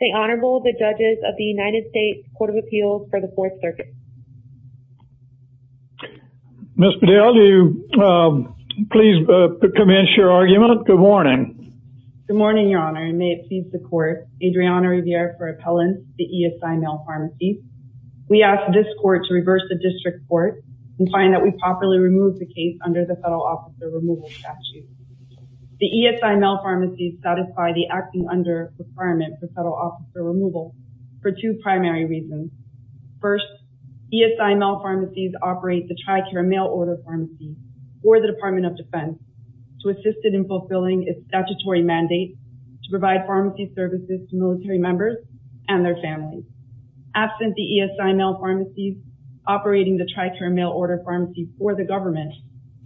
The Honorable, the Judges of the United States Court of Appeals for the Fourth Circuit. Ms. Bedell, do you please commence your argument? Good morning. Good morning, Your Honor, and may it please the Court. Adriana Rivera for Appellant, the ESI Mail Pharmacy. We ask this Court to reverse the District Court and find that we properly remove the case under the Federal Officer Removal Statute. The ESI Mail Pharmacy's satisfy the acting under requirement for Federal Officer Removal for two primary reasons. First, ESI Mail Pharmacy's operate the Tri-Care Mail Order Pharmacy for the Department of Defense to assist it in fulfilling its statutory mandate to provide pharmacy services to military members and their families. Absent the ESI Mail Pharmacy's operating the Tri-Care Mail Order Pharmacy for the government,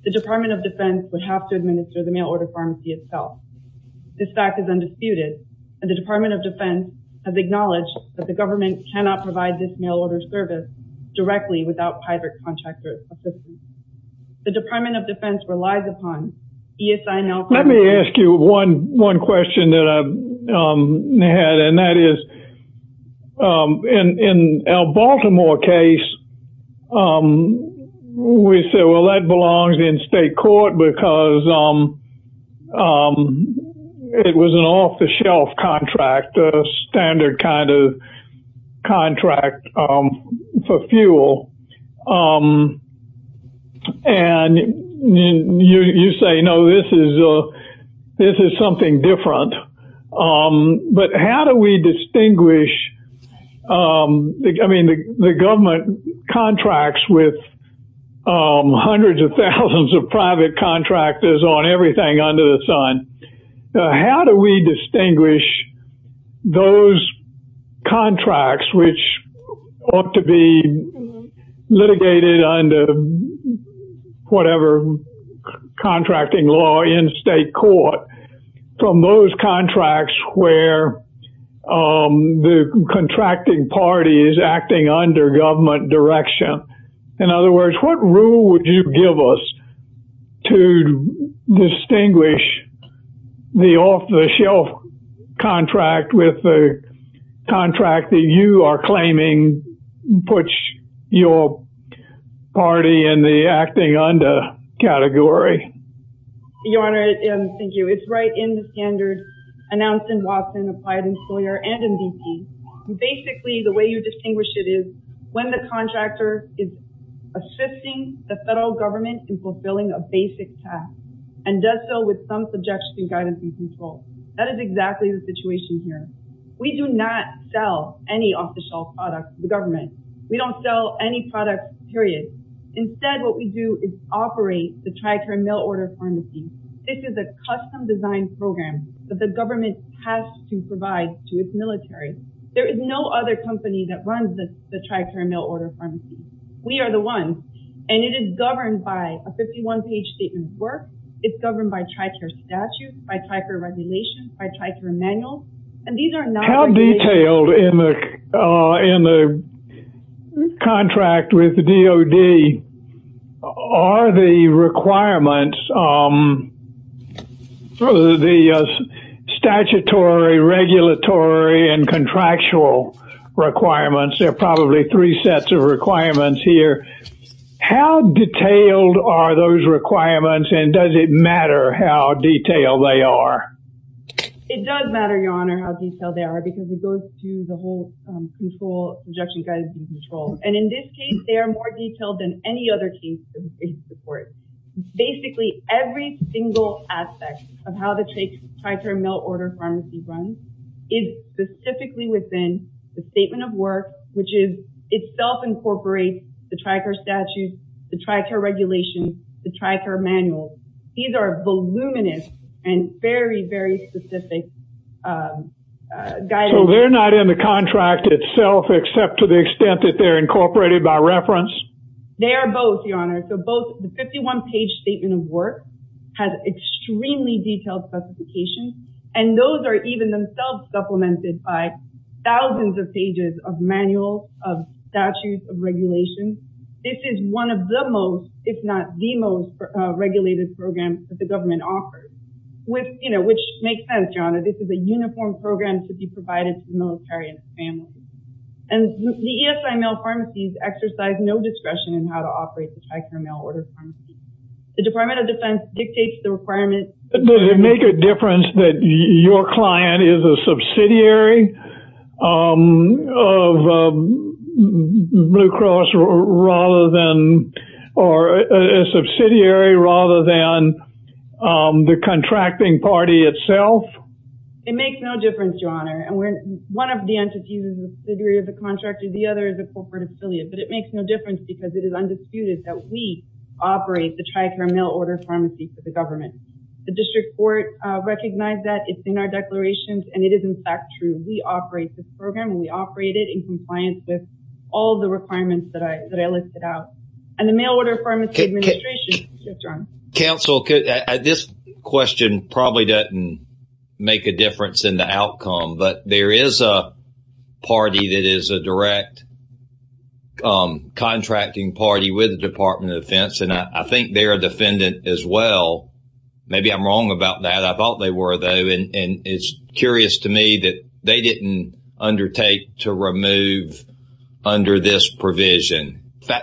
the Department of Defense would have to administer the mail order pharmacy itself. This fact is undisputed, and the Department of Defense has acknowledged that the government cannot provide this mail order service directly without private contractor assistance. The Department of Defense relies upon ESI Mail Pharmacy. Let me ask you one question that I had, and that is, in our Baltimore case, we said, well, that belongs in state court because it was an off-the-shelf contract, a standard kind of contract for fuel. And you say, no, this is something different. But how do we distinguish, I mean, the government contracts with hundreds of thousands of private contractors on everything under the sun. How do we distinguish those contracts which ought to be litigated under whatever contracting law in state court from those contracts where the contracting party is acting under government direction? In other words, what rule would you give us to distinguish the off-the-shelf contract with the contract that you are claiming puts your party in the acting under category? Your Honor, thank you. It's right in the standard announced in Watson, applied in Sawyer, and in BP. Basically, the way you distinguish it is when the contractor is assisting the federal government in fulfilling a basic task and does so with some subjection, guidance, and control. That is exactly the situation here. We do not sell any off-the-shelf products to the government. We don't sell any products, period. Instead, what we do is operate the Tricare mail-order pharmacy. This is a custom-designed program that the government has to provide to its military. There is no other company that runs the Tricare mail-order pharmacy. We are the ones. And it is governed by a 51-page statement of work. It's governed by Tricare statute, by Tricare regulations, by Tricare manuals. And these are not- How detailed in the contract with DOD are the requirements, the statutory, regulatory, and contractual requirements? There are probably three sets of requirements here. How detailed are those requirements, and does it matter how detailed they are? It does matter, Your Honor, how detailed they are because it goes through the whole control, subjection, guidance, and control. And in this case, they are more detailed than any other case in the case report. Basically, every single aspect of how the Tricare mail-order pharmacy runs is specifically within the statement of work, which itself incorporates the Tricare statutes, the Tricare regulations, the Tricare manuals. These are voluminous and very, very specific guidance. So they're not in the contract itself except to the extent that they're incorporated by reference? They are both, Your Honor. So both the 51-page statement of work has extremely detailed specifications, and those are even themselves supplemented by one of the most, if not the most, regulated programs that the government offers, which makes sense, Your Honor. This is a uniform program to be provided to the military and family. And the ESI mail pharmacies exercise no discretion in how to operate the Tricare mail-order pharmacy. The Department of Defense dictates the requirements. Does it make a difference if the client is a subsidiary of Blue Cross or a subsidiary rather than the contracting party itself? It makes no difference, Your Honor. One of the entities is a subsidiary of the contractor. The other is a corporate affiliate. But it makes no difference because it is undisputed that we operate the Tricare mail-order pharmacy for the government. The district court recognized that. It's in our declarations, and it is, in fact, true. We operate this program, and we operate it in compliance with all the requirements that I listed out. And the mail-order pharmacy administration... Counsel, this question probably doesn't make a difference in the outcome, but there is a party that is a direct contracting party with the Department of Defense, and I think they're a defendant as well. Maybe I'm wrong about that. I thought they were, though, and it's curious to me that they didn't undertake to remove under this provision.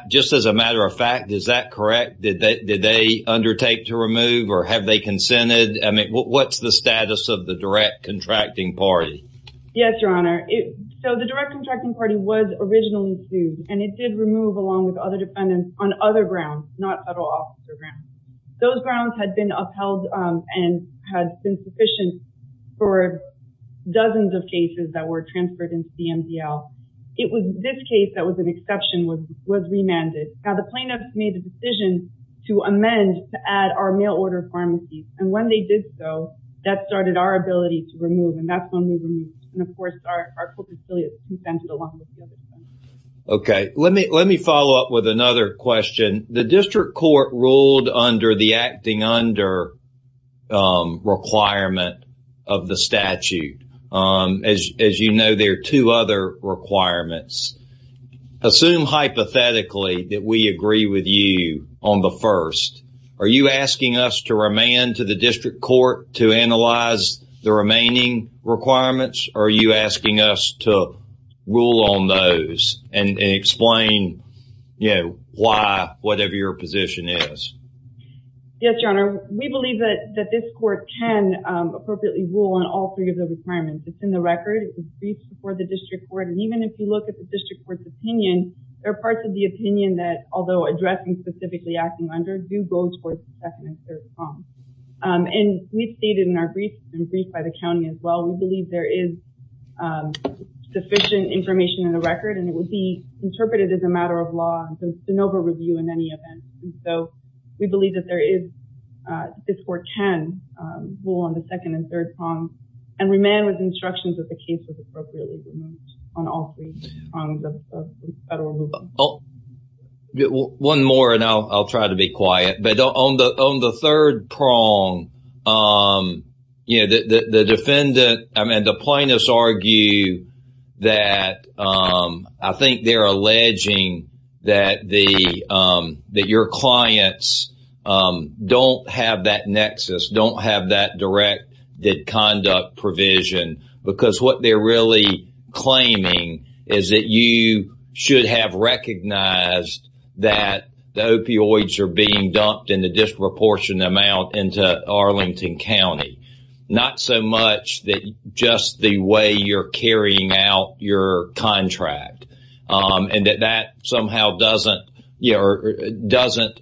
Just as a matter of fact, is that correct? Did they undertake to remove, or have they consented? I mean, what's the status of the direct contracting party? Yes, Your Honor. So, the direct contracting party was originally sued, and it did remove along with other defendants on other grounds, not federal officer grounds. Those grounds had been upheld and had been sufficient for dozens of cases that were transferred into the MDL. This case that was an exception was remanded. Now, the plaintiffs made a decision to amend to add our mail-order pharmacies, and when they did so, that started our ability to remove, and that's when we removed. And, of course, our co-conciliates consented along with the other plaintiffs. Okay. Let me follow up with another question. The district court ruled under the acting under requirement of the statute. As you know, there are two other requirements. Assume, hypothetically, that we agree with you on the first. Are you asking us to remand to the district court to analyze the remaining requirements, or are you asking us to rule on those and explain, you know, why, whatever your position is? Yes, Your Honor. We believe that this court can appropriately rule on all three of the requirements. It's in the record. It was briefed before the district court, and even if you look at the district court's opinion, there are parts of the opinion that, although addressing specifically acting under, do go towards the defendant's third form. And we stated in our brief, and briefed by the county as well, we believe there is sufficient information in the record, and it would be interpreted as a matter of law, and it's an over-review in any event. And so, we believe that there is, this court can rule on the second and third prongs, and remand with instructions that the case is appropriately removed on all three prongs of the federal rule. One more, and I'll try to be quiet, but on the third prong, you know, the defendant, I mean, the plaintiffs argue that, I think they're alleging that the, that your clients don't have that nexus, don't have that direct conduct provision, because what they're really claiming is that you should have recognized that the opioids are being dumped in a disproportionate amount into Arlington County, not so much that just the way you're carrying out your contract, and that that somehow doesn't, you know, doesn't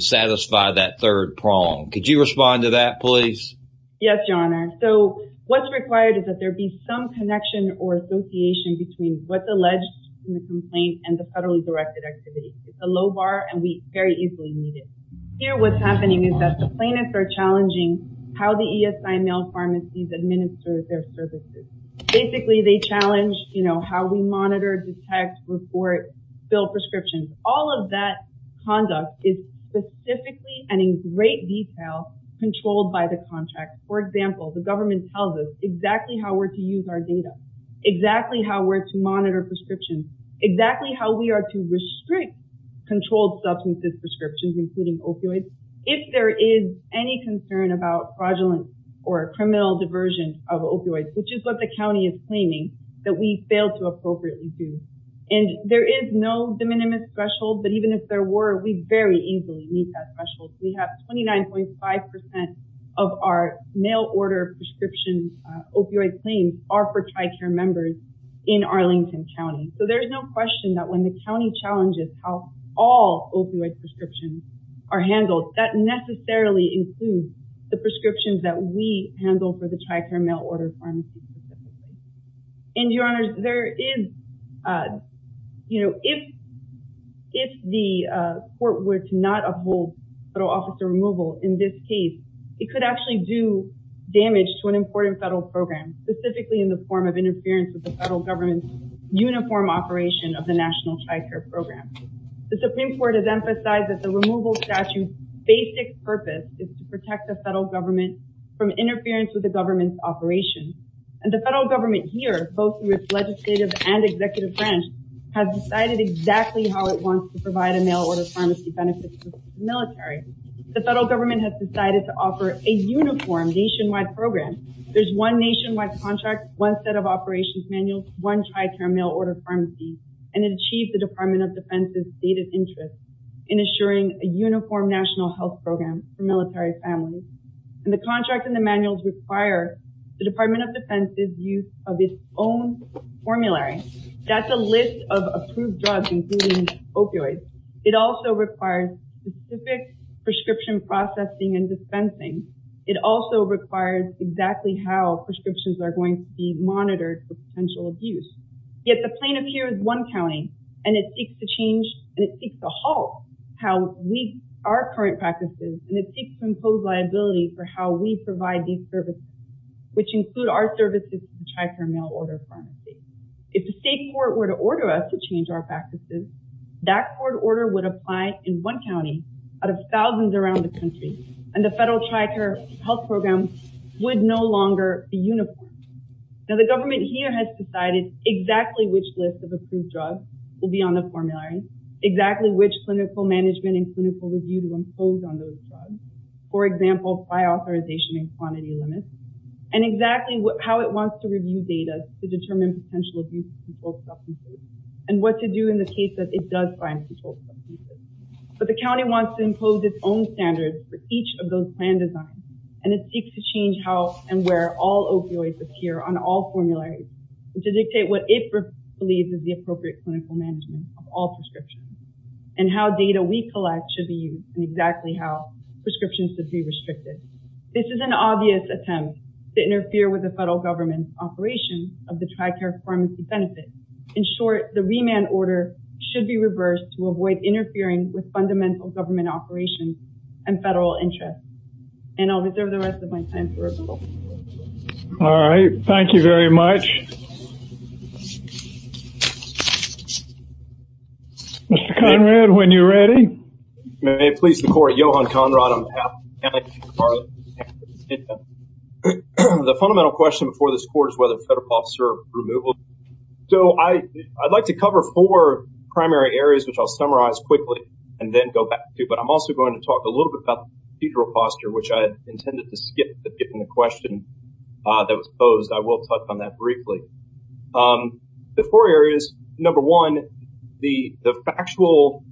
satisfy that third prong. Could you respond to that, please? Yes, your honor. So, what's required is that there be some connection or association between what's alleged in the complaint and the federally directed activity. It's a low bar, and we very easily meet it. Here, what's happening is that the plaintiffs are challenging how the ESI male pharmacies administer their services. Basically, they challenge, you know, how we monitor, detect, report, fill prescriptions. All of that conduct is specifically and in great detail controlled by the contract. For example, the government tells us exactly how we're to use our data, exactly how we're to monitor prescriptions, exactly how we are to restrict controlled substances prescriptions, including opioids, if there is any concern about fraudulent or criminal diversion of opioids, which is what the county is claiming that we fail to appropriately do. And there is no de minimis threshold, but even if there were, we very easily meet that threshold. We have 29.5 percent of our male order prescription opioid claims are for all opioid prescriptions are handled. That necessarily includes the prescriptions that we handle for the TRICARE male order pharmacies. And your honors, there is, uh, you know, if, if the court were to not uphold federal officer removal in this case, it could actually do damage to an important federal program, specifically in the form of interference with the federal government's uniform operation of the national TRICARE program. The Supreme Court has emphasized that the removal statute's basic purpose is to protect the federal government from interference with the government's operation. And the federal government here, both legislative and executive branch, has decided exactly how it wants to provide a male order pharmacy benefits military. The federal government has decided to offer a uniform nationwide program. There's one nationwide contract, one set of operations manuals, one TRICARE male order pharmacy, and it achieved the department of defense's stated interest in assuring a uniform national health program for military families. And the contract and the manuals require the department of defense's use of its own formulary. That's a list of approved drugs, including opioids. It also requires specific prescriptions that are going to be monitored for potential abuse. Yet the plaintiff here is one county and it seeks to change and it seeks to halt how we, our current practices, and it seeks to impose liability for how we provide these services, which include our services to TRICARE male order pharmacy. If the state court were to order us to change our practices, that court order would apply in one county out of thousands around the country. And the federal TRICARE health program would no longer be uniformed. Now the government here has decided exactly which list of approved drugs will be on the formulary, exactly which clinical management and clinical review to impose on those drugs, for example, by authorization and quantity limits, and exactly how it wants to review data to determine potential abuse of controlled substances and what to do in the case that it does find controlled substances. But the county wants to impose its own standards for each of those plan and it seeks to change how and where all opioids appear on all formularies to dictate what it believes is the appropriate clinical management of all prescriptions and how data we collect should be used and exactly how prescriptions should be restricted. This is an obvious attempt to interfere with the federal government's operation of the TRICARE pharmacy benefit. In short, the remand order should be reversed to avoid interfering with fundamental government operations and federal interests. And I'll reserve the rest of my time for removal. All right, thank you very much. Mr. Conrad, when you're ready. May it please the court, Johan Conrad on behalf of the county of Santa Barbara, the fundamental question before this court is whether federal officer removal. So I'd like to talk a little bit about the procedural posture, which I intended to skip, but given the question that was posed, I will touch on that briefly. The four areas, number one, the factual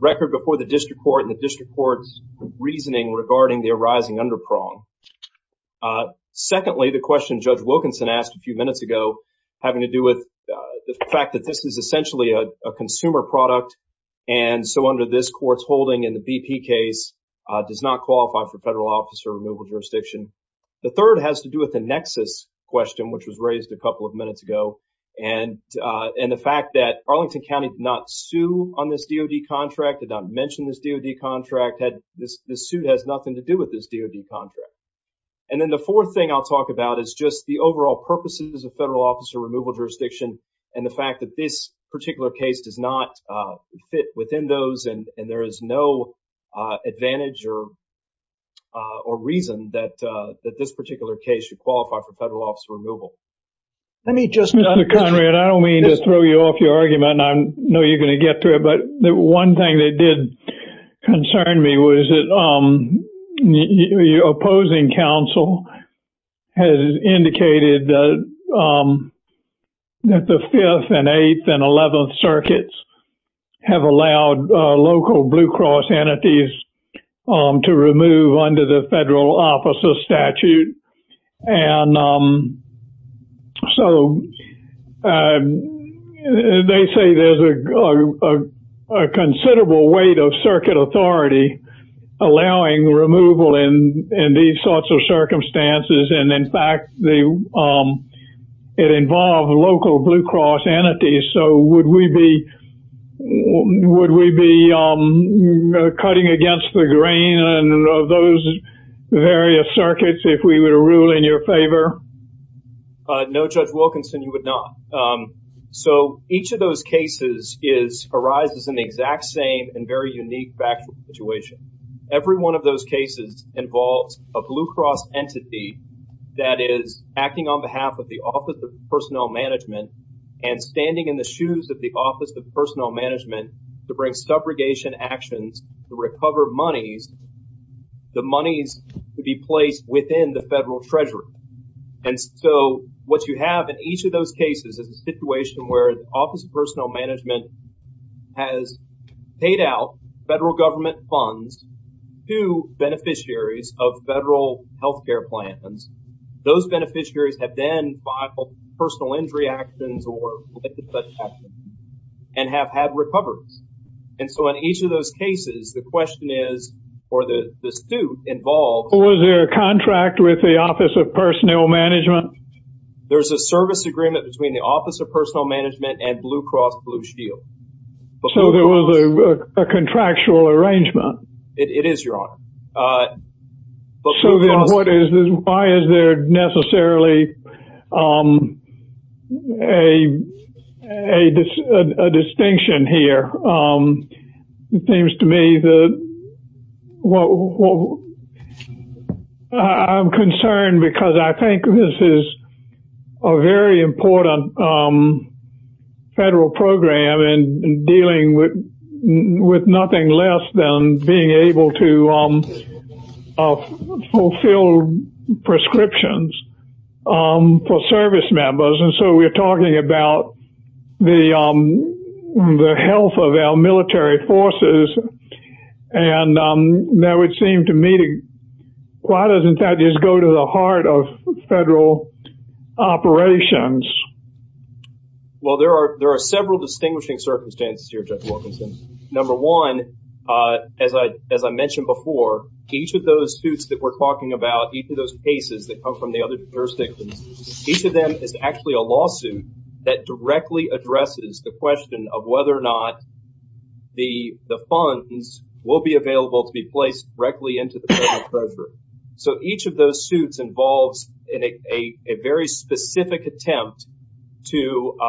record before the district court and the district court's reasoning regarding the arising underprong. Secondly, the question Judge Wilkinson asked a few minutes ago having to do with the fact that this is essentially a consumer product and so under this court's holding in the BP case does not qualify for federal officer removal jurisdiction. The third has to do with the nexus question, which was raised a couple of minutes ago. And the fact that Arlington County did not sue on this DOD contract, did not mention this DOD contract, this suit has nothing to do with this DOD contract. And then the fourth thing I'll talk about is just the overall purposes of federal officer removal jurisdiction and the fact that this particular case does not fit within those and there is no advantage or reason that this particular case should qualify for federal officer removal. Let me just... Mr. Conrad, I don't mean to throw you off your argument. I know you're going to get through it, but the one thing that did concern me was that opposing counsel has indicated that the 5th and 8th and 11th circuits have allowed local Blue Cross entities to remove under the federal officer statute and so they say there's a in these sorts of circumstances and in fact it involved local Blue Cross entities. So would we be cutting against the grain of those various circuits if we were to rule in your favor? No, Judge Wilkinson, you would not. So each of those cases arises in the exact same and very involves a Blue Cross entity that is acting on behalf of the Office of Personnel Management and standing in the shoes of the Office of Personnel Management to bring subrogation actions to recover monies, the monies to be placed within the federal treasury. And so what you have in each of those cases is a situation where the Office of Personnel Management has paid out federal government funds to beneficiaries of federal health care plans. Those beneficiaries have then filed personal injury actions or and have had recoveries. And so in each of those cases, the question is, or the dispute involves... Was there a contract with the Office of Personnel Management? There's a service agreement between the Office of Personnel Management and Blue Cross Blue Shield. So there was a contractual arrangement? It is, Your Honor. Why is there necessarily a distinction here? It seems to me that well, I'm concerned because I think this is a very important federal program and dealing with nothing less than being able to fulfill prescriptions for service members. And so we're talking about the health of our military forces. And that would seem to me, why doesn't that just go to the heart of federal operations? Well, there are several distinguishing circumstances here, Judge Wilkinson. Number one, as I mentioned before, each of those suits that we're talking about, each of those cases that come from the other jurisdictions, each of them is actually a lawsuit that directly addresses the question of whether or not the funds will be available to be placed directly into the federal treasury. So each of those suits involves a very specific attempt to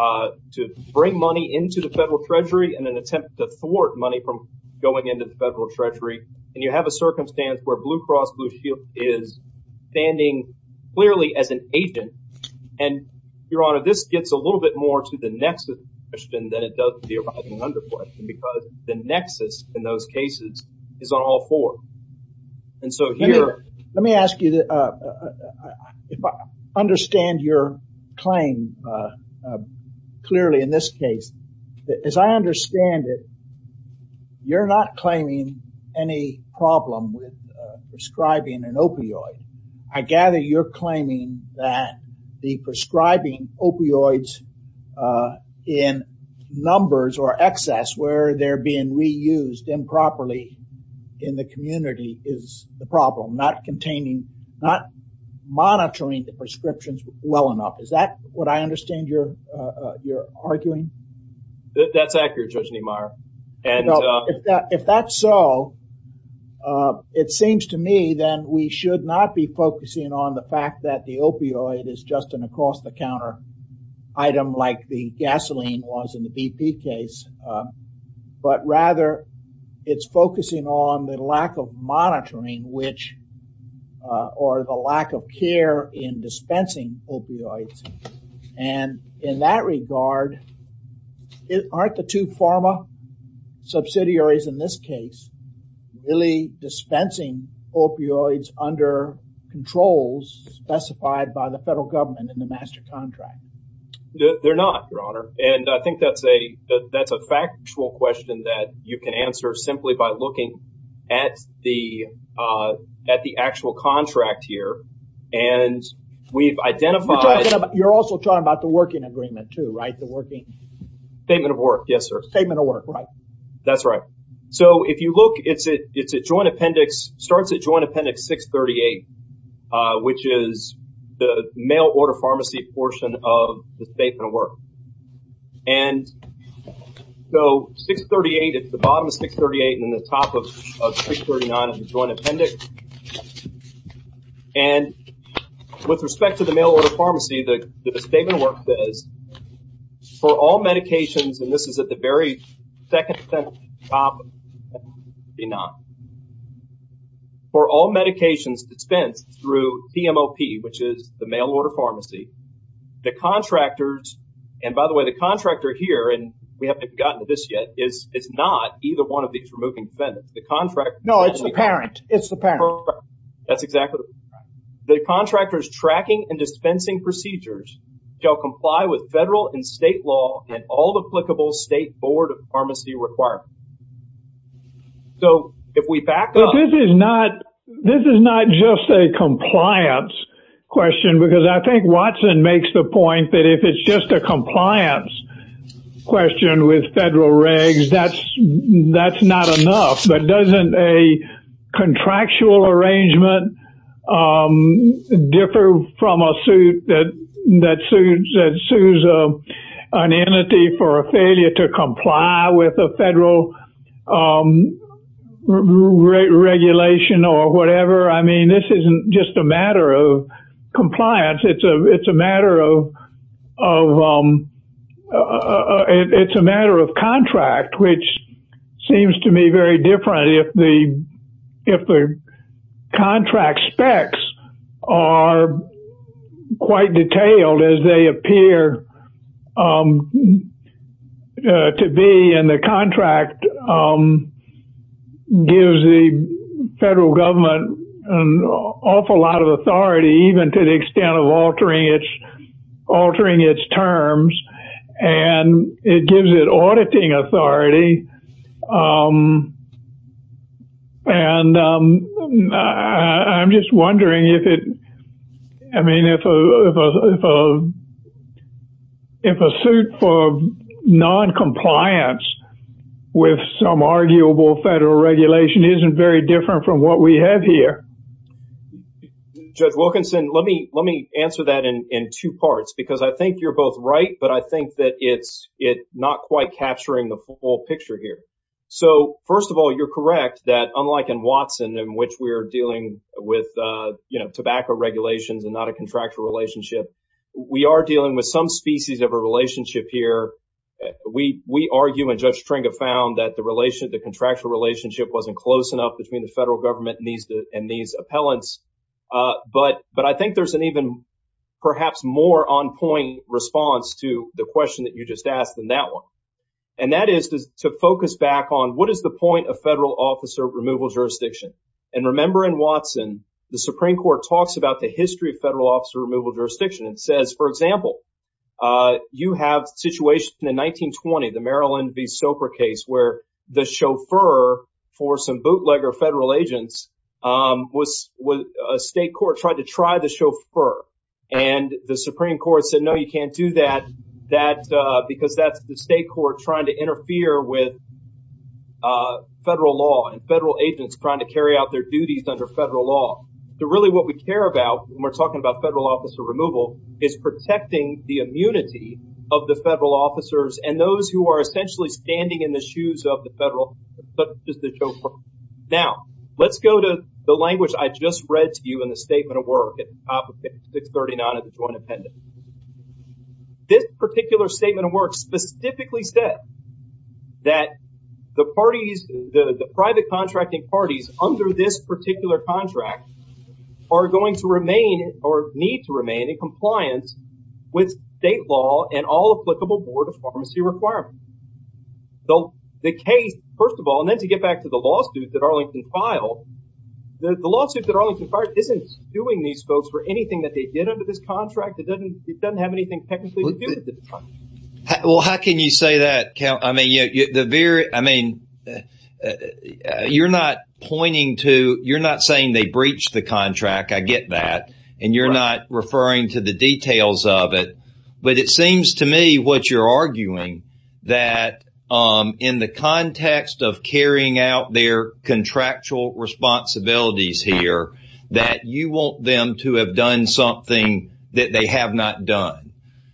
bring money into the federal treasury and an attempt to thwart money from going into the standing clearly as an agent. And, Your Honor, this gets a little bit more to the nexus question than it does to the arising under question because the nexus in those cases is on all four. And so here... Let me ask you, if I understand your claim clearly in this case, as I understand it, you're not claiming any problem with prescribing an opioid. I gather you're claiming that the prescribing opioids in numbers or excess where they're being reused improperly in the community is the problem, not containing, not monitoring the prescriptions well enough. Is that what I know? If that's so, it seems to me then we should not be focusing on the fact that the opioid is just an across the counter item like the gasoline was in the BP case, but rather it's focusing on the lack of monitoring which or the lack of care in dispensing opioids. And in that regard, aren't the two pharma subsidiaries in this case really dispensing opioids under controls specified by the federal government in the master contract? They're not, Your Honor. And I think that's a factual question that you can answer simply by looking at the actual contract here. And we've identified... You're also talking about the working agreement too, right? The working... Statement of work. Yes, sir. Statement of work, right. That's right. So if you look, it's a joint appendix, starts at joint appendix 638, which is the mail order pharmacy portion of the statement of work. And so 638, it's the bottom of 638 and the top of 639 is the joint appendix. And with respect to the mail order pharmacy, the statement of work says, for all medications, and this is at the very second sentence, for all medications dispensed through PMOP, which is the mail order pharmacy, the contractors, and by the way, the contractor here, and we haven't gotten to this yet, is not either one of these removing defendants. The contract... It's the parent. That's exactly right. The contractors tracking and dispensing procedures shall comply with federal and state law and all applicable state board of pharmacy requirements. So if we back up... But this is not just a compliance question, because I think Watson makes the point that if it's just a compliance question with federal regs, that's not enough. But doesn't a contractual arrangement differ from a suit that sues an entity for a failure to comply with a federal regulation or whatever? I mean, this isn't just a matter of compliance. It's a matter of contract, which seems to me very different if the contract specs are quite detailed as they appear to be, and the contract gives the federal government an awful lot of authority, even to the extent of altering its terms, and it gives it auditing authority. And I'm just wondering if a suit for noncompliance with some arguable federal regulation isn't very different from what we have here. Judge Wilkinson, let me answer that in two parts, because I think you're both right, but I think that it's not quite capturing the full picture here. So first of all, you're correct that unlike in Watson, in which we're dealing with tobacco regulations and not a contractual relationship, we are dealing with some species of a relationship here. We argue, and Judge Stringa found, that the contractual relationship wasn't close enough between the federal government and these appellants. But I think there's an even perhaps more on-point response to the question that you just asked than that one, and that is to focus back on what is the point of federal officer removal jurisdiction. And remember in Watson, the Supreme Court talks about the history of federal officer removal jurisdiction and says, for example, you have a situation in 1920, the Maryland v. Soper case, where the chauffeur for some bootlegger federal agents, a state court tried to try the chauffeur. And the Supreme Court said, no, you can't do that, because that's the state court trying to interfere with federal law and federal agents trying to carry out their duties under federal law. So really what we care about when we're talking about federal officer removal is protecting the immunity of the federal officers and those who are essentially standing in the shoes of the federal, such as the chauffeur. Now, let's go to the language I just read to you in the statement of work at 639 of the joint appendix. This particular statement of work specifically said that the parties, the private contracting parties under this particular contract are going to remain or need to remain in compliance with state law and all applicable board of pharmacy requirements. So the case, first of all, and then to get back to the lawsuit that Arlington filed, the lawsuit that Arlington filed isn't suing these folks for anything that they did under this contract. It doesn't have anything technically to do with the contract. Well, how can you say that? I mean, you're not pointing to, you're not saying they breached the details of it, but it seems to me what you're arguing that in the context of carrying out their contractual responsibilities here, that you want them to have done something that they have not done.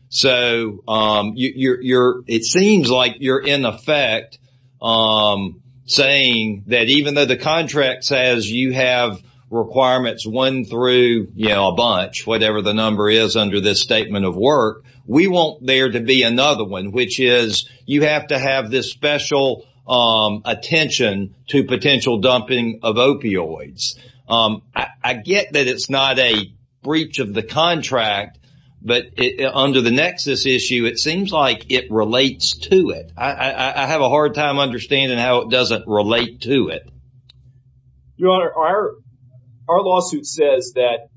So it seems like you're in effect saying that even though the contract says you have requirements one through a bunch, whatever the number is under this statement of work, we want there to be another one, which is you have to have this special attention to potential dumping of opioids. I get that it's not a breach of the contract, but under the nexus issue, it seems like it relates to it. I have a hard time understanding how it doesn't relate to it. Your Honor, our lawsuit says that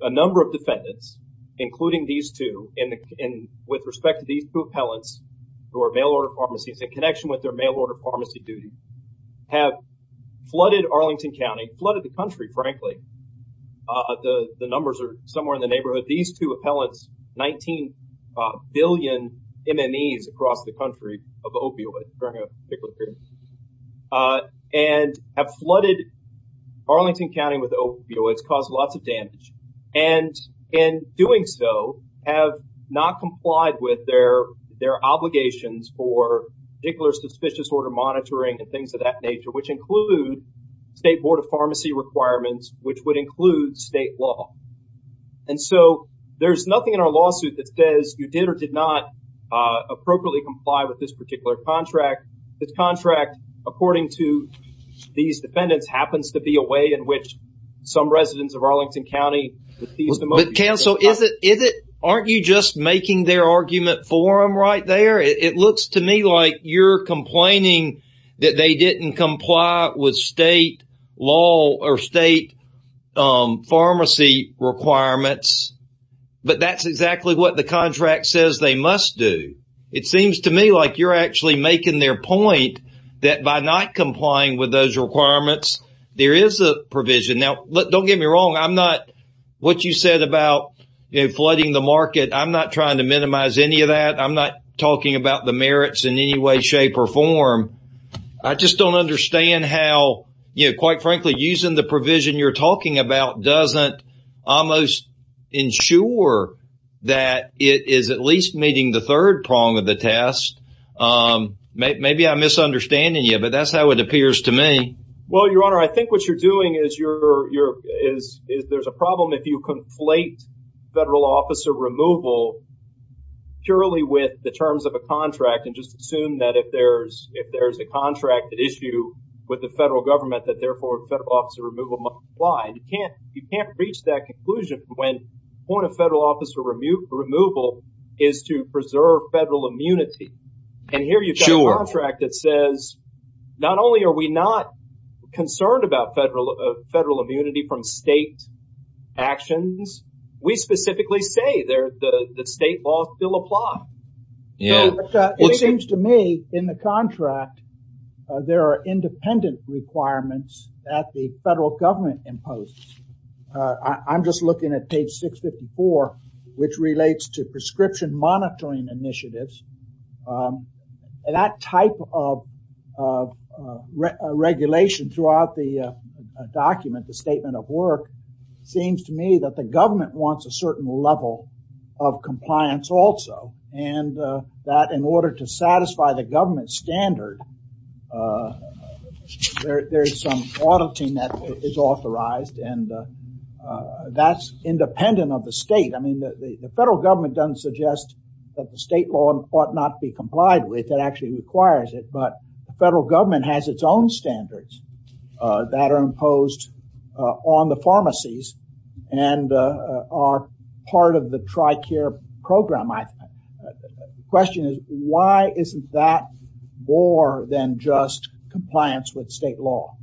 a number of defendants, including these two, and with respect to these two appellants who are mail-order pharmacies in connection with their mail-order pharmacy duties, have flooded Arlington County, flooded the country, frankly. The numbers are somewhere in the neighborhood. These two appellants, 19 billion MMEs across the country of opioids during a particular period of time, and have flooded Arlington County with opioids, caused lots of damage, and in doing so, have not complied with their obligations for particular suspicious order monitoring and things of that nature, which include state board of pharmacy requirements, which would include state law. And so there's nothing in our lawsuit that says you did or did not appropriately comply with this particular contract. This contract, according to these defendants, happens to be a way in which some residents of Arlington County. Counsel, aren't you just making their argument for them right there? It looks to me like you're complaining that they didn't comply with state law or state pharmacy requirements, but that's exactly what the contract says they must do. It seems to me like you're actually making their point that by not complying with those requirements, there is a provision. Now, don't get me wrong. I'm not, what you said about flooding the market, I'm not trying to minimize any of that. I'm not talking about the merits in any way, shape, or form. I just don't understand how, you know, quite frankly, using the provision you're talking about doesn't almost ensure that it is at least meeting the third prong of the test. Maybe I'm misunderstanding you, but that's how it appears to me. Well, Your Honor, I think what you're doing is there's a problem if you conflate federal officer removal purely with the terms of a contract and assume that if there's a contract issue with the federal government that, therefore, federal officer removal must apply. You can't reach that conclusion when the point of federal officer removal is to preserve federal immunity. And here you've got a contract that says, not only are we not concerned about federal immunity from state actions, we specifically say the state law still applies. It seems to me in the contract, there are independent requirements that the federal government imposes. I'm just looking at page 654, which relates to prescription monitoring initiatives. That type of regulation throughout the document, the statement of work, seems to me that the government wants a certain level of compliance also. And that in order to satisfy the government standard, there's some auditing that is authorized and that's independent of the state. I mean, the federal government doesn't suggest that the state law ought not be complied with. It actually requires it. But the federal government has its own standards that are imposed on the pharmacies and are part of the TRICARE program. My question is, why isn't that more than just compliance with state law?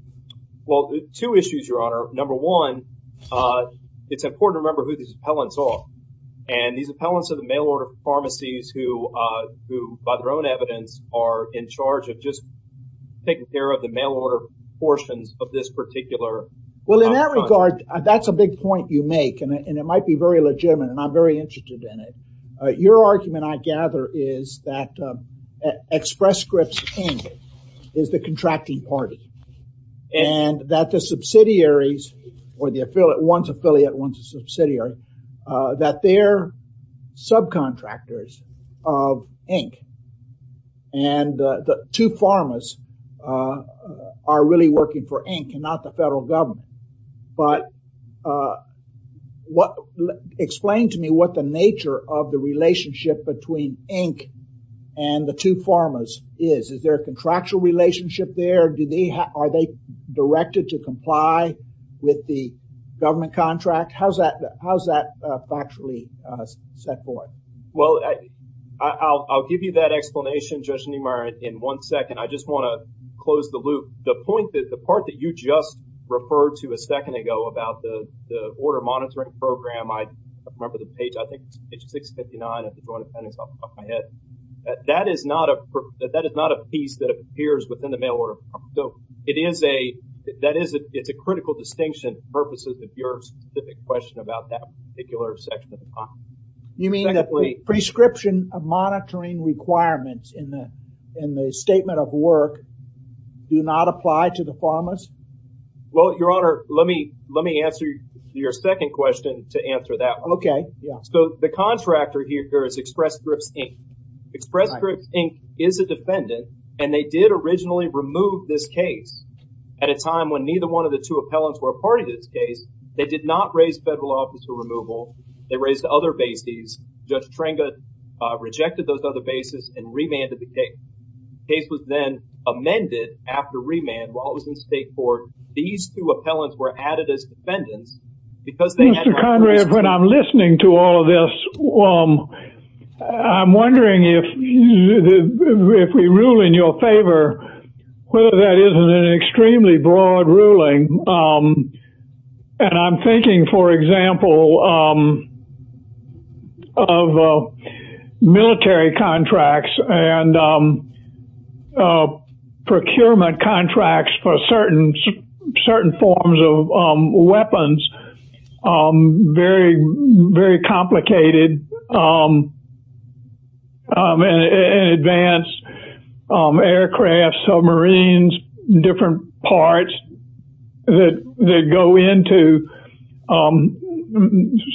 Well, two issues, Your Honor. Number one, it's important to remember who these appellants are. And these appellants are the mail-order pharmacies who, by their own evidence, are in charge of just taking care of the mail-order portions of this particular. Well, in that regard, that's a big point you make. And it might be very legitimate. And I'm very interested in it. Your argument, I gather, is that Express Scripts Inc. is the contracting party. And that the subsidiaries, or the affiliate, one's affiliate, one's a subsidiary, that they're subcontractors of Inc. And the two pharmas are really working for Inc. and not the federal government. But explain to me what the nature of the relationship between Inc. and the two pharmas is. Is there a contractual relationship there? Are they directed to comply with the government contract? How's that factually set forth? Well, I'll give you that explanation, Judge Niemeyer, in one second. I just want to close the loop. The part that you just referred to a second ago about the order monitoring program, I remember the page, I think it's page 659 of the Joint Appendix off the top of my head. That is not a piece that appears within the mail order. So it is a, that is, it's a critical distinction for purposes of your specific question about that particular section of the file. You mean the prescription of monitoring requirements in the statement of work do not apply to the pharmas? Well, Your Honor, let me answer your second question to answer that one. Okay, yeah. The contractor here is Express Scripts, Inc. Express Scripts, Inc. is a defendant, and they did originally remove this case at a time when neither one of the two appellants were a party to this case. They did not raise federal officer removal. They raised other bases. Judge Trengut rejected those other bases and remanded the case. The case was then amended after remand while it was in state court. These two appellants were added as defendants because they had- When I'm listening to all of this, I'm wondering if we rule in your favor, whether that isn't an extremely broad ruling. And I'm thinking, for example, of military contracts and procurement contracts for certain forms of weapons are very, very complicated and advance aircraft, submarines, different parts that go into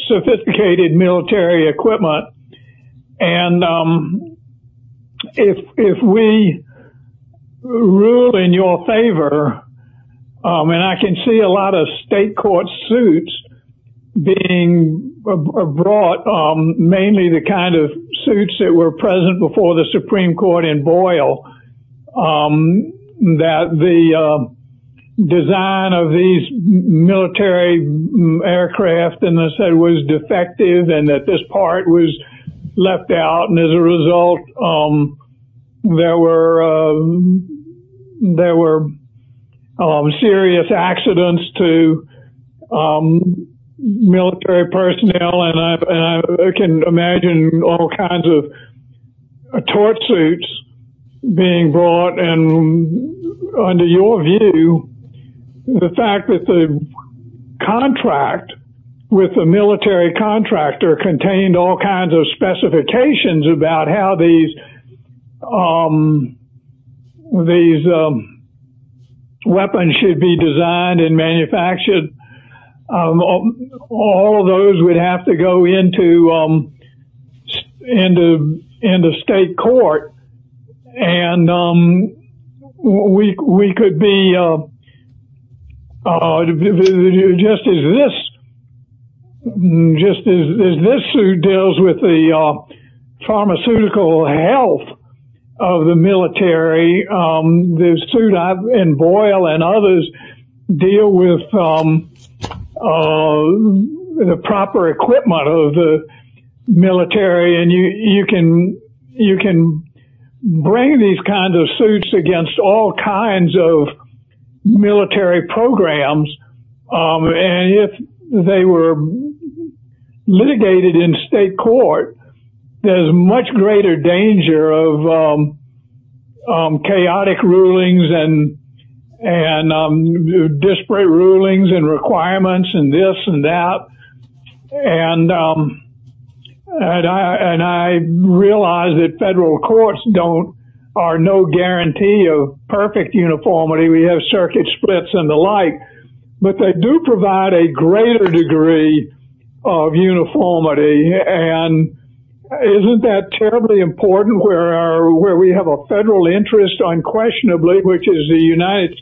sophisticated military equipment. And if we rule in your favor, and I can see a lot of state court suits being brought, mainly the kind of suits that were present before the Supreme Court in Boyle, that the design of these military aircraft, and they said it was defective and that this part was left out. And as a result, there were serious accidents to military personnel. And I can imagine all kinds of tort suits being brought. And under your view, the fact that the contract with the military contractor contained all kinds of specifications about how these weapons should be designed and this suit deals with the pharmaceutical health of the military, the suit in Boyle and others deal with the proper equipment of the military. And you can bring these kinds of suits against all kinds of military programs. And if they were litigated in state court, there's much greater danger of chaotic rulings and disparate rulings and requirements and this and that. And I realize that federal courts are no guarantee of perfect uniformity. We have circuit splits and the like. But they do provide a greater degree of uniformity. And isn't that terribly important where we have a federal interest unquestionably, which is the United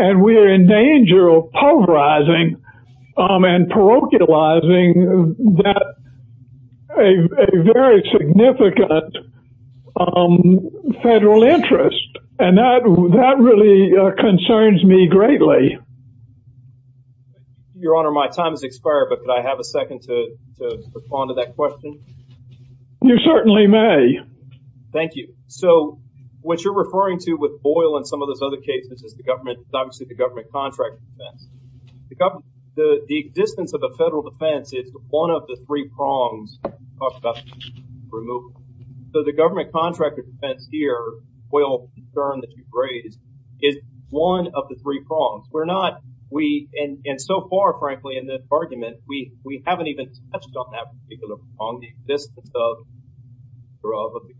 And we are in danger of pulverizing and parochializing a very significant federal interest. And that really concerns me greatly. Your Honor, my time has expired. But could I have a second to respond to that question? You certainly may. Thank you. So what you're referring to with Boyle and some of those other cases is the government, obviously the government contractor defense. The existence of a federal defense is one of the three prongs of removal. So the government contractor defense here, Boyle's concern that you've raised is one of the three prongs. And so far, frankly, in this argument, we haven't even touched on that particular prong.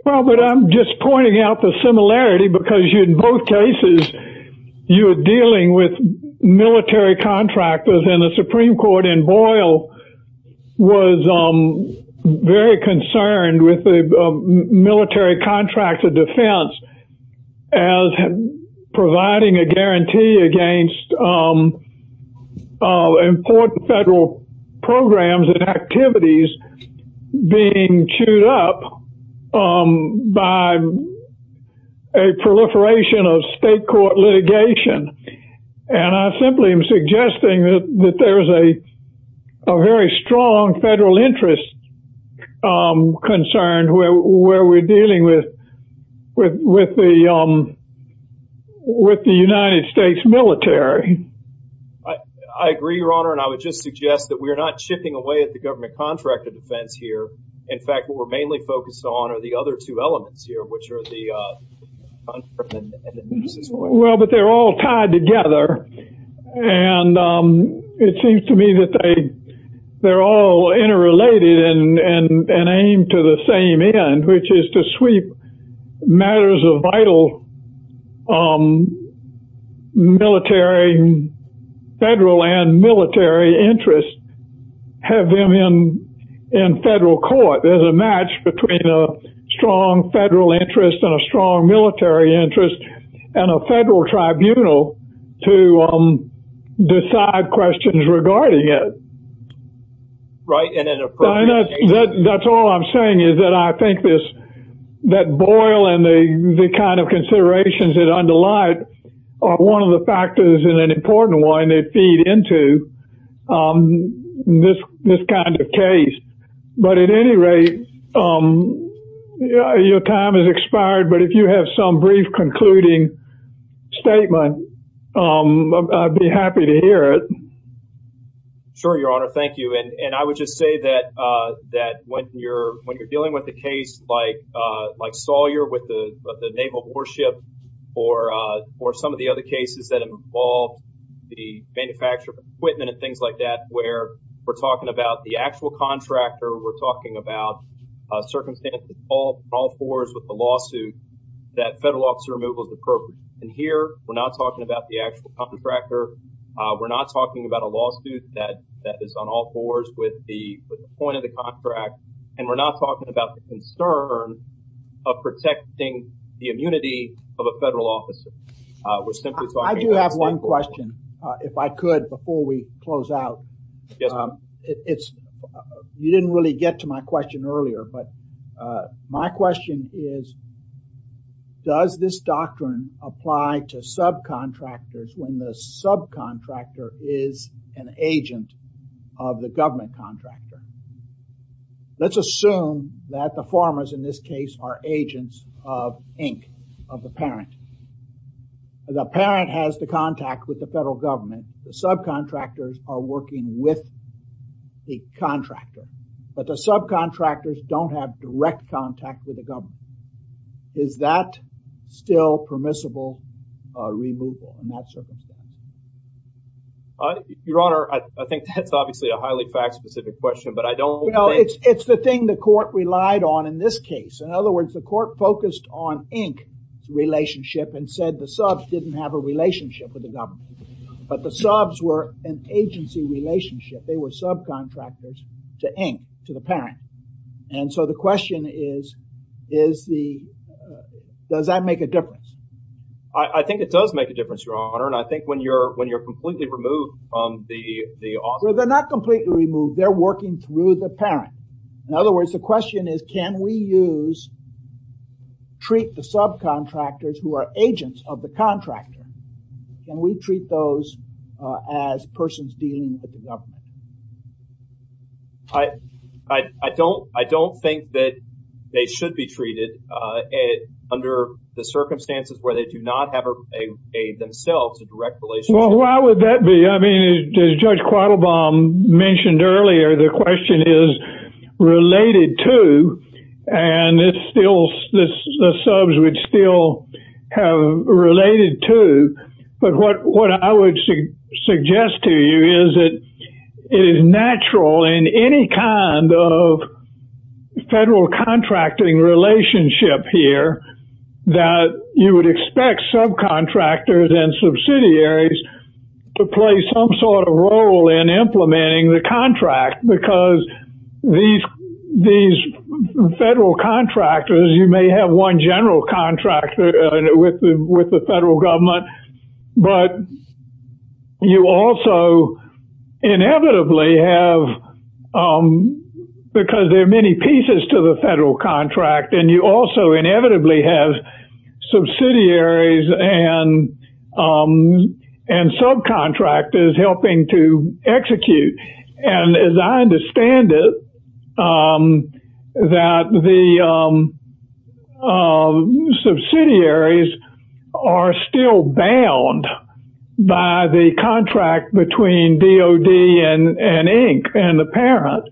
Well, but I'm just pointing out the similarity because in both cases, you're dealing with military contractors and the Supreme Court in Boyle was very concerned with the military contractor defense as providing a guarantee against important federal programs and activities being chewed up by a proliferation of state court litigation. And I simply am suggesting that there is a very strong federal interest concerned where we're dealing with the United States military. I agree, Your Honor. And I would just suggest that we're not chipping away at the government contractor defense here. In fact, what we're mainly focused on are the other two elements here, which are the contract and the nuisances. Well, but they're all tied together. And it seems to me that they're all interrelated and aimed to the same end, which is to sweep matters of vital military, federal and military interest, have them in federal court. There's a match between a strong federal interest and a strong military interest and a federal tribunal to decide questions regarding it. Right. And that's all I'm saying is that I think that Boyle and the kind of considerations that underlie it are one of the factors and an important one that feed into this kind of case. But at any rate, your time has expired. But if you have some brief concluding statement, I'd be happy to hear it. Sure, Your Honor. Thank you. And I would just say that when you're dealing with a case like Sawyer with the naval warship or some of the other cases that involve the manufacture of equipment and things like that, where we're talking about the actual contractor, we're talking about circumstances in all fours with the lawsuit that federal officer removal is appropriate. And here, we're not talking about the actual contractor. We're not talking about a lawsuit that is on all fours with the point of the contract. And we're not talking about the concern of protecting the immunity of a federal officer. I do have one question, if I could, before we close out. Yes. You didn't really get to my question earlier. But my question is, does this doctrine apply to subcontractors when the subcontractor is an agent of the government contractor? Let's assume that the farmers in this case are agents of Inc., of the parent. The parent has contact with the federal government. The subcontractors are working with the contractor, but the subcontractors don't have direct contact with the government. Is that still permissible removal in that circumstance? Your Honor, I think that's obviously a highly fact-specific question, but I don't think... No, it's the thing the court relied on in this case. In other words, the court focused on Inc.'s relationship and said the subs didn't have a relationship with the government, but the subs were an agency relationship. They were subcontractors to Inc., to the parent. And so the question is, does that make a difference? I think it does make a difference, Your Honor. And I think when you're completely removed from the... Well, they're not completely removed. They're working through the parent. In other words, the question is, can we use, treat the subcontractors who are agents of the contractor, can we treat those as persons dealing with the government? I don't think that they should be treated under the circumstances where they do not have themselves a direct relationship. Well, why would that be? I mean, as Judge Quattlebaum mentioned earlier, the question is related to, and the subs would still have related to. But what I would suggest to you is that it is natural in any kind of federal contracting relationship here that you would expect subcontractors and subsidiaries to play some sort of role in implementing the contract. Because these federal contractors, you may have one general contractor with the federal government, but you also inevitably have, because there are many pieces to the federal contract, and you also inevitably have subsidiaries and subcontractors helping to execute. And as I understand it, that the subsidiaries are still bound by the contract between DOD and Inc. and the parent.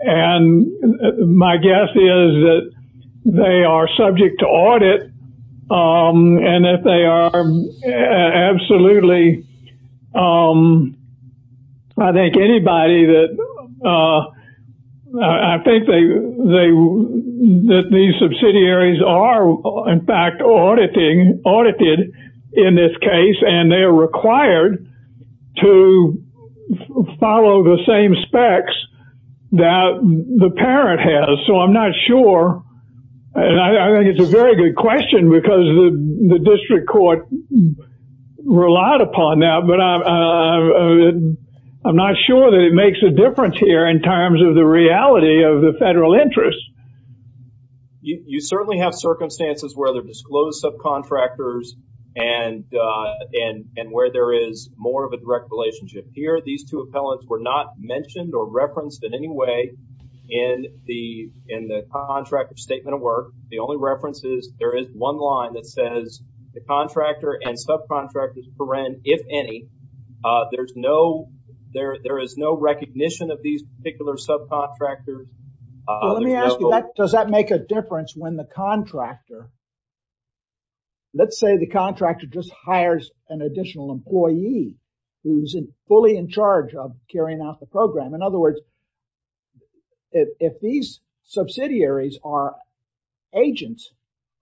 And my guess is that they are subject to audit, and that they are absolutely, I think anybody that, I think that these subsidiaries are in fact audited in this case, and they are required to follow the same specs that the parent has. So I'm not sure, and I think it's a very good question because the district court relied upon that, but I'm not sure that it makes a difference here in terms of the reality of the federal interest. You certainly have circumstances where they're disclosed subcontractors and where there is more of a direct relationship. Here, these two appellants were not mentioned or referenced in any way in the contractor's statement of work. The only reference is there is one line that says the contractor and subcontractor's parent, if any, there is no recognition of these particular subcontractors. Let me ask you, does that make a difference when the contractor, let's say the contractor just hires an additional employee who's fully in charge of carrying out the program. In other words, if these subsidiaries are agents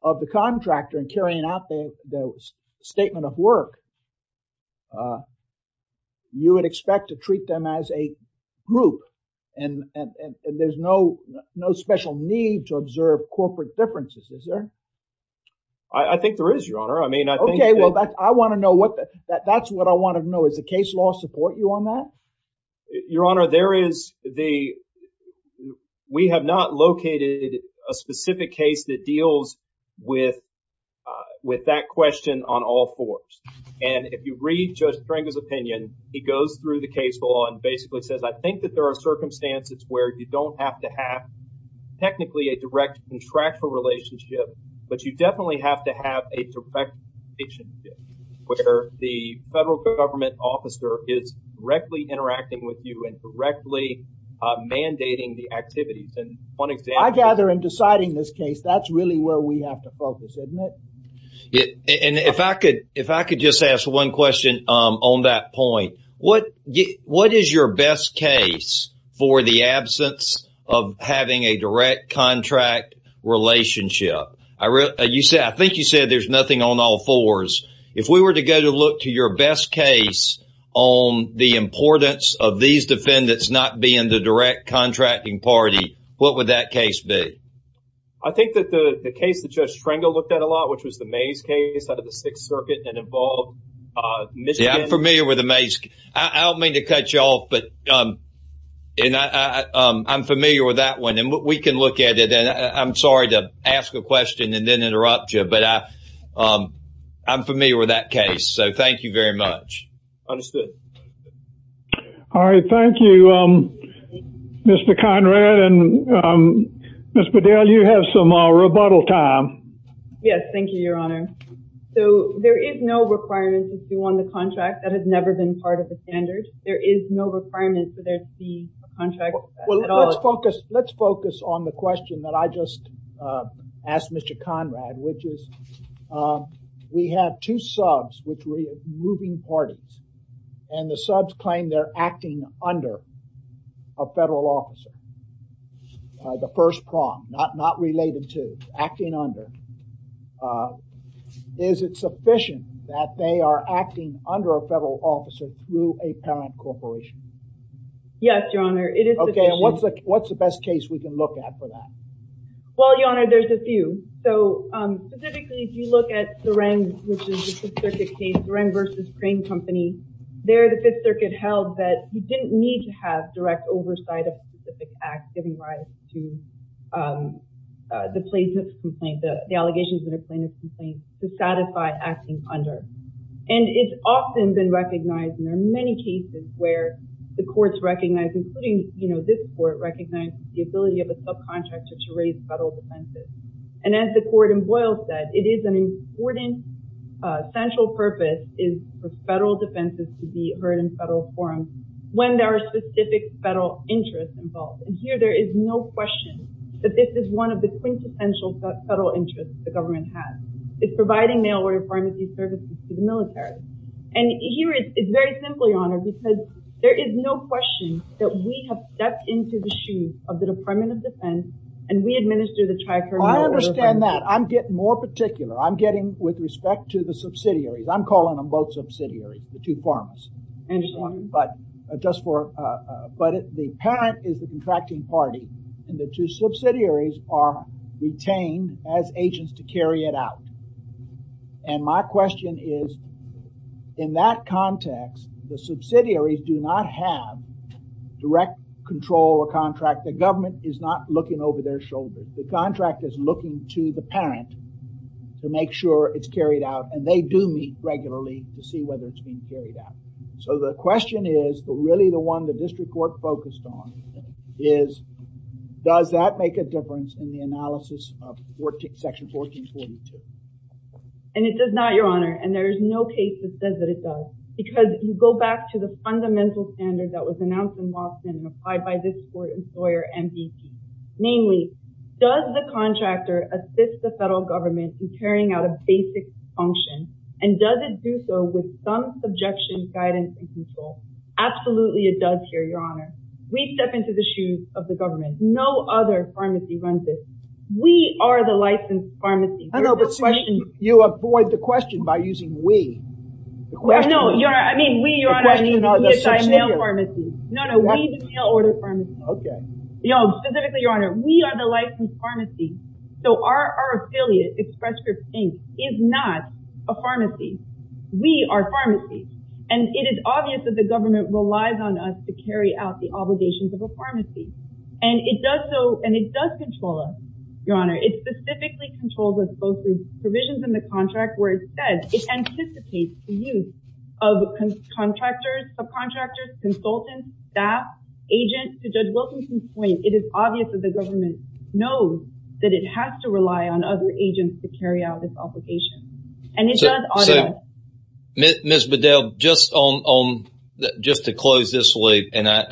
of the contractor and carrying out the statement of work, you would expect to treat them as a group, and there's no special need to observe corporate differences, is there? I think there is, Your Honor. I mean, I think- Okay, well, I want to know what, that's what I want to know. Does the case law support you on that? Your Honor, there is the, we have not located a specific case that deals with that question on all fours. And if you read Judge Stringer's opinion, he goes through the case law and basically says, I think that there are circumstances where you don't have to have technically a direct contractual relationship, but you definitely have to have a direct relationship where the federal government officer is directly interacting with you and directly mandating the activities. And one example- I gather in deciding this case, that's really where we have to focus, isn't it? And if I could just ask one question on that point, what is your best case for the absence of having a direct contract relationship? I think you said there's nothing on all fours. If we were to go to look to your best case on the importance of these defendants not being the direct contracting party, what would that case be? I think that the case that Judge Stringer looked at a lot, which was the Mays case out of the Sixth Circuit and involved Michigan- Yeah, I'm familiar with the Mays case. I don't mean to cut you off, but I'm familiar with that one. And we can look at it. And I'm sorry to ask a question and then interrupt you, but I'm familiar with that case. So thank you very much. Understood. All right. Thank you, Mr. Conrad. And Ms. Bedell, you have some rebuttal time. Yes. Thank you, Your Honor. So there is no requirement to see one of the contracts that has never been part of the standard. There is no requirement for there to be a contract- Well, let's focus on the question that I just asked Mr. Conrad, which is we have two subs which were moving parties. And the subs claim they're acting under a federal officer. The first prompt, not related to, acting under. Is it sufficient that they are acting under a federal officer through a parent corporation? Yes, Your Honor. It is sufficient- Okay. And what's the best case we can look at for that? Well, Your Honor, there's a few. So specifically, if you look at Durang, which is the Fifth Circuit case, Durang v. Crane Company, there the Fifth Circuit held that you didn't need to have direct oversight of specific acts giving rise to the plaintiff's complaint, the allegations in a plaintiff's complaint to satisfy acting under. And it's often been recognized, and there are many cases where the courts recognize, including this court, recognize the ability of a subcontractor to raise federal defenses. And as the court in Boyle said, it is an important central purpose is for federal defenses to be heard in federal forums when there are specific federal interests involved. And here there is no question that this is one of the quintessential federal interests the government has. It's providing mail-order pharmacy services to the military. And here it's very simple, Your Honor, because there is no question that we have stepped into the shoes of the Department of Defense, and we administer the Tri-Federal Mail-Order. I understand that. I'm getting more particular. I'm getting with respect to the subsidiaries. I'm calling them both subsidiaries, the two pharmacies. But just for, but the parent is the contracting party, and the two subsidiaries are retained as agents to carry it out. And my question is, in that context, the subsidiaries do not have direct control or contract. The government is not looking over their shoulders. The contract is looking to the parent to make sure it's carried out, and they do meet regularly to see whether it's being carried out. So the question is, but really the one the district court focused on is, does that make a difference in the analysis of section 1442? And it does not, Your Honor, and there is no case that says that it does, because you go back to the fundamental standard that was announced in Watson and applied by this court employer, MVP. Namely, does the contractor assist the federal government in carrying out a basic function, and does it do so with some subjection, guidance, and control? Absolutely, it does here, Your Honor. We step into the shoes of the government. No other pharmacy runs this. We are the licensed pharmacy. I know, but you avoid the question by using we. No, Your Honor, I mean, we, Your Honor, are the mail order pharmacy. Okay. You know, specifically, Your Honor, we are the licensed pharmacy. So our affiliate, Express Script Inc., is not a pharmacy. We are pharmacies. And it is obvious that the government relies on us to carry out the obligations of a pharmacy. And it does so, Your Honor. It specifically controls us both through provisions in the contract where it says it anticipates the use of contractors, subcontractors, consultants, staff, agents. To Judge Wilkinson's point, it is obvious that the government knows that it has to rely on other agents to carry out this obligation. And it does. Ms. Bedell, just to close this loop, and I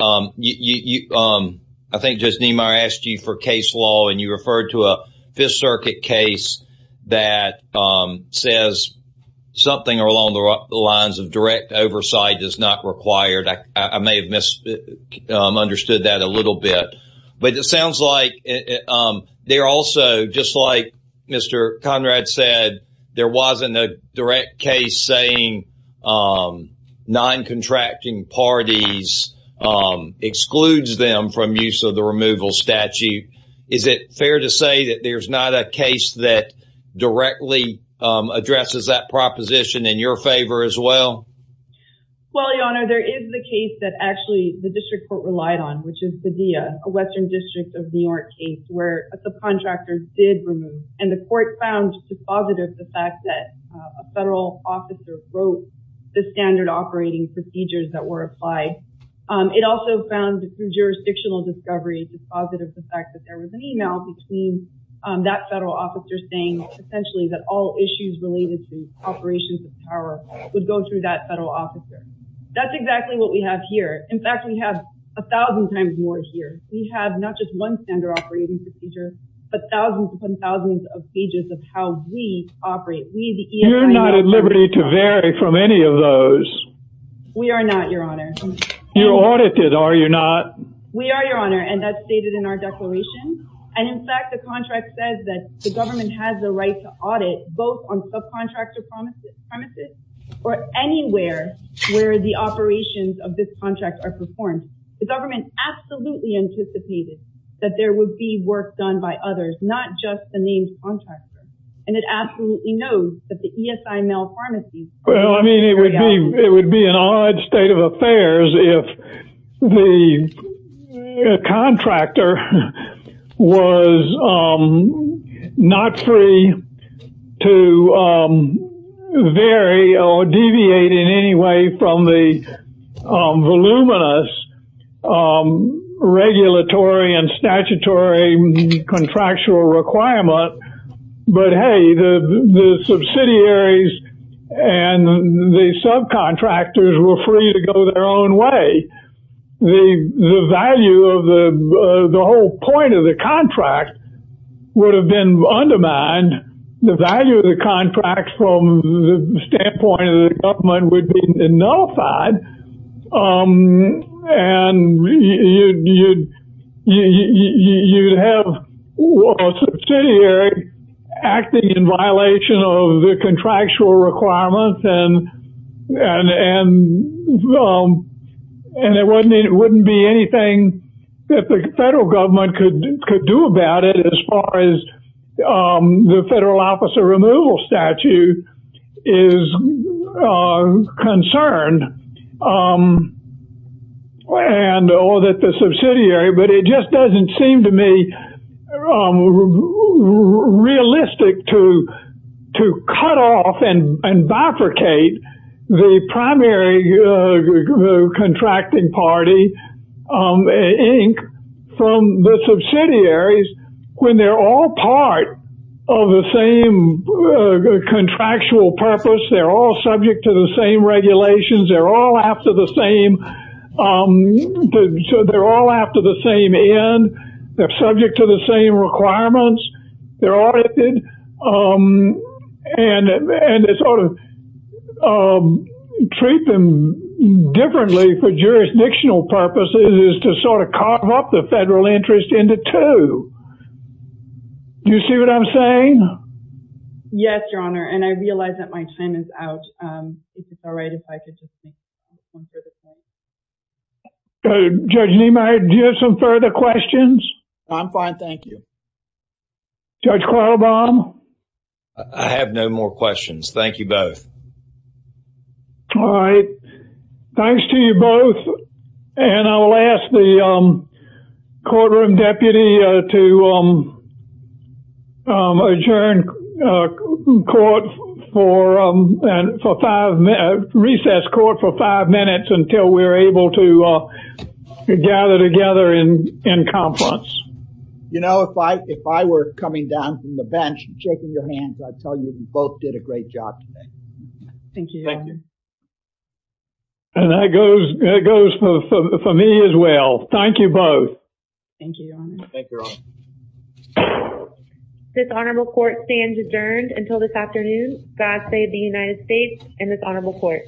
think Judge Niemeyer asked you for case law, and you referred to a Fifth Circuit case that says something along the lines of direct oversight is not required. I may have misunderstood that a little bit. But it sounds like there also, just like Mr. Conrad said, there wasn't a direct case saying non-contracting parties excludes them from use of the removal statute. Is it fair to say that there's not a case that directly addresses that proposition in your favor as well? Well, Your Honor, there is the case that actually the district court relied on, which is Padilla, a Western District of New York case, where the contractors did remove. And the court found dispositive the fact that a federal officer broke the standard operating procedures that were applied. It also found through jurisdictional discovery dispositive the fact that there was an email between that federal officer saying, essentially, that all issues related to operations of power would go through that federal officer. That's exactly what we have here. In fact, we have a thousand times more here. We have not just one standard operating procedure, but thousands upon thousands of pages of how we operate. You're not at liberty to vary from any of those. We are not, Your Honor. You're audited, are you not? We are, Your Honor, and that's stated in our declaration. And in fact, the contract says that the government has the right to audit both on subcontractor premises or anywhere where the operations of this contract are performed. The government absolutely anticipated that there would be work done by others, not just the named contractor. And it absolutely knows that the ESIML Pharmacy... Well, I mean, it would be an odd state of affairs if the contractor was not free to vary or deviate in any way from the voluminous regulatory and statutory contractual requirement. But hey, the subsidiaries and the subcontractors were free to go their own way. The value of the whole point of the contract would have been undermined. The value of the contract from the standpoint of the government would be nullified, and you'd have a subsidiary acting in violation of the contractual requirements. And there wouldn't be anything that the federal government could do about it as far as the federal officer removal statute is concerned, and all that the subsidiary... But it just doesn't seem to me realistic to cut off and bifurcate the primary contracting party, Inc., from the subsidiaries when they're all part of the same contractual purpose. They're all subject to the same regulations. They're all after the same end. They're subject to the same requirements. They're audited, and they sort of treat them differently for jurisdictional purposes is to sort of carve up the federal interest into two. Do you see what I'm saying? Yes, Your Honor, and I realize that my time is out. Judge Niemeyer, do you have some further questions? No, I'm fine. Thank you. Judge Quattlebaum? I have no more questions. Thank you both. All right. Thanks to you both, and I'll ask the courtroom deputy to adjourn court for five... Recess court for five minutes until we're able to gather together in confluence. You know, if I were coming down from the bench, shaking your hands, I'd tell you you both did a great job today. Thank you. And that goes for me as well. Thank you both. Thank you, Your Honor. Thank you, Your Honor. This honorable court stands adjourned until this afternoon. God save the United States and this honorable court.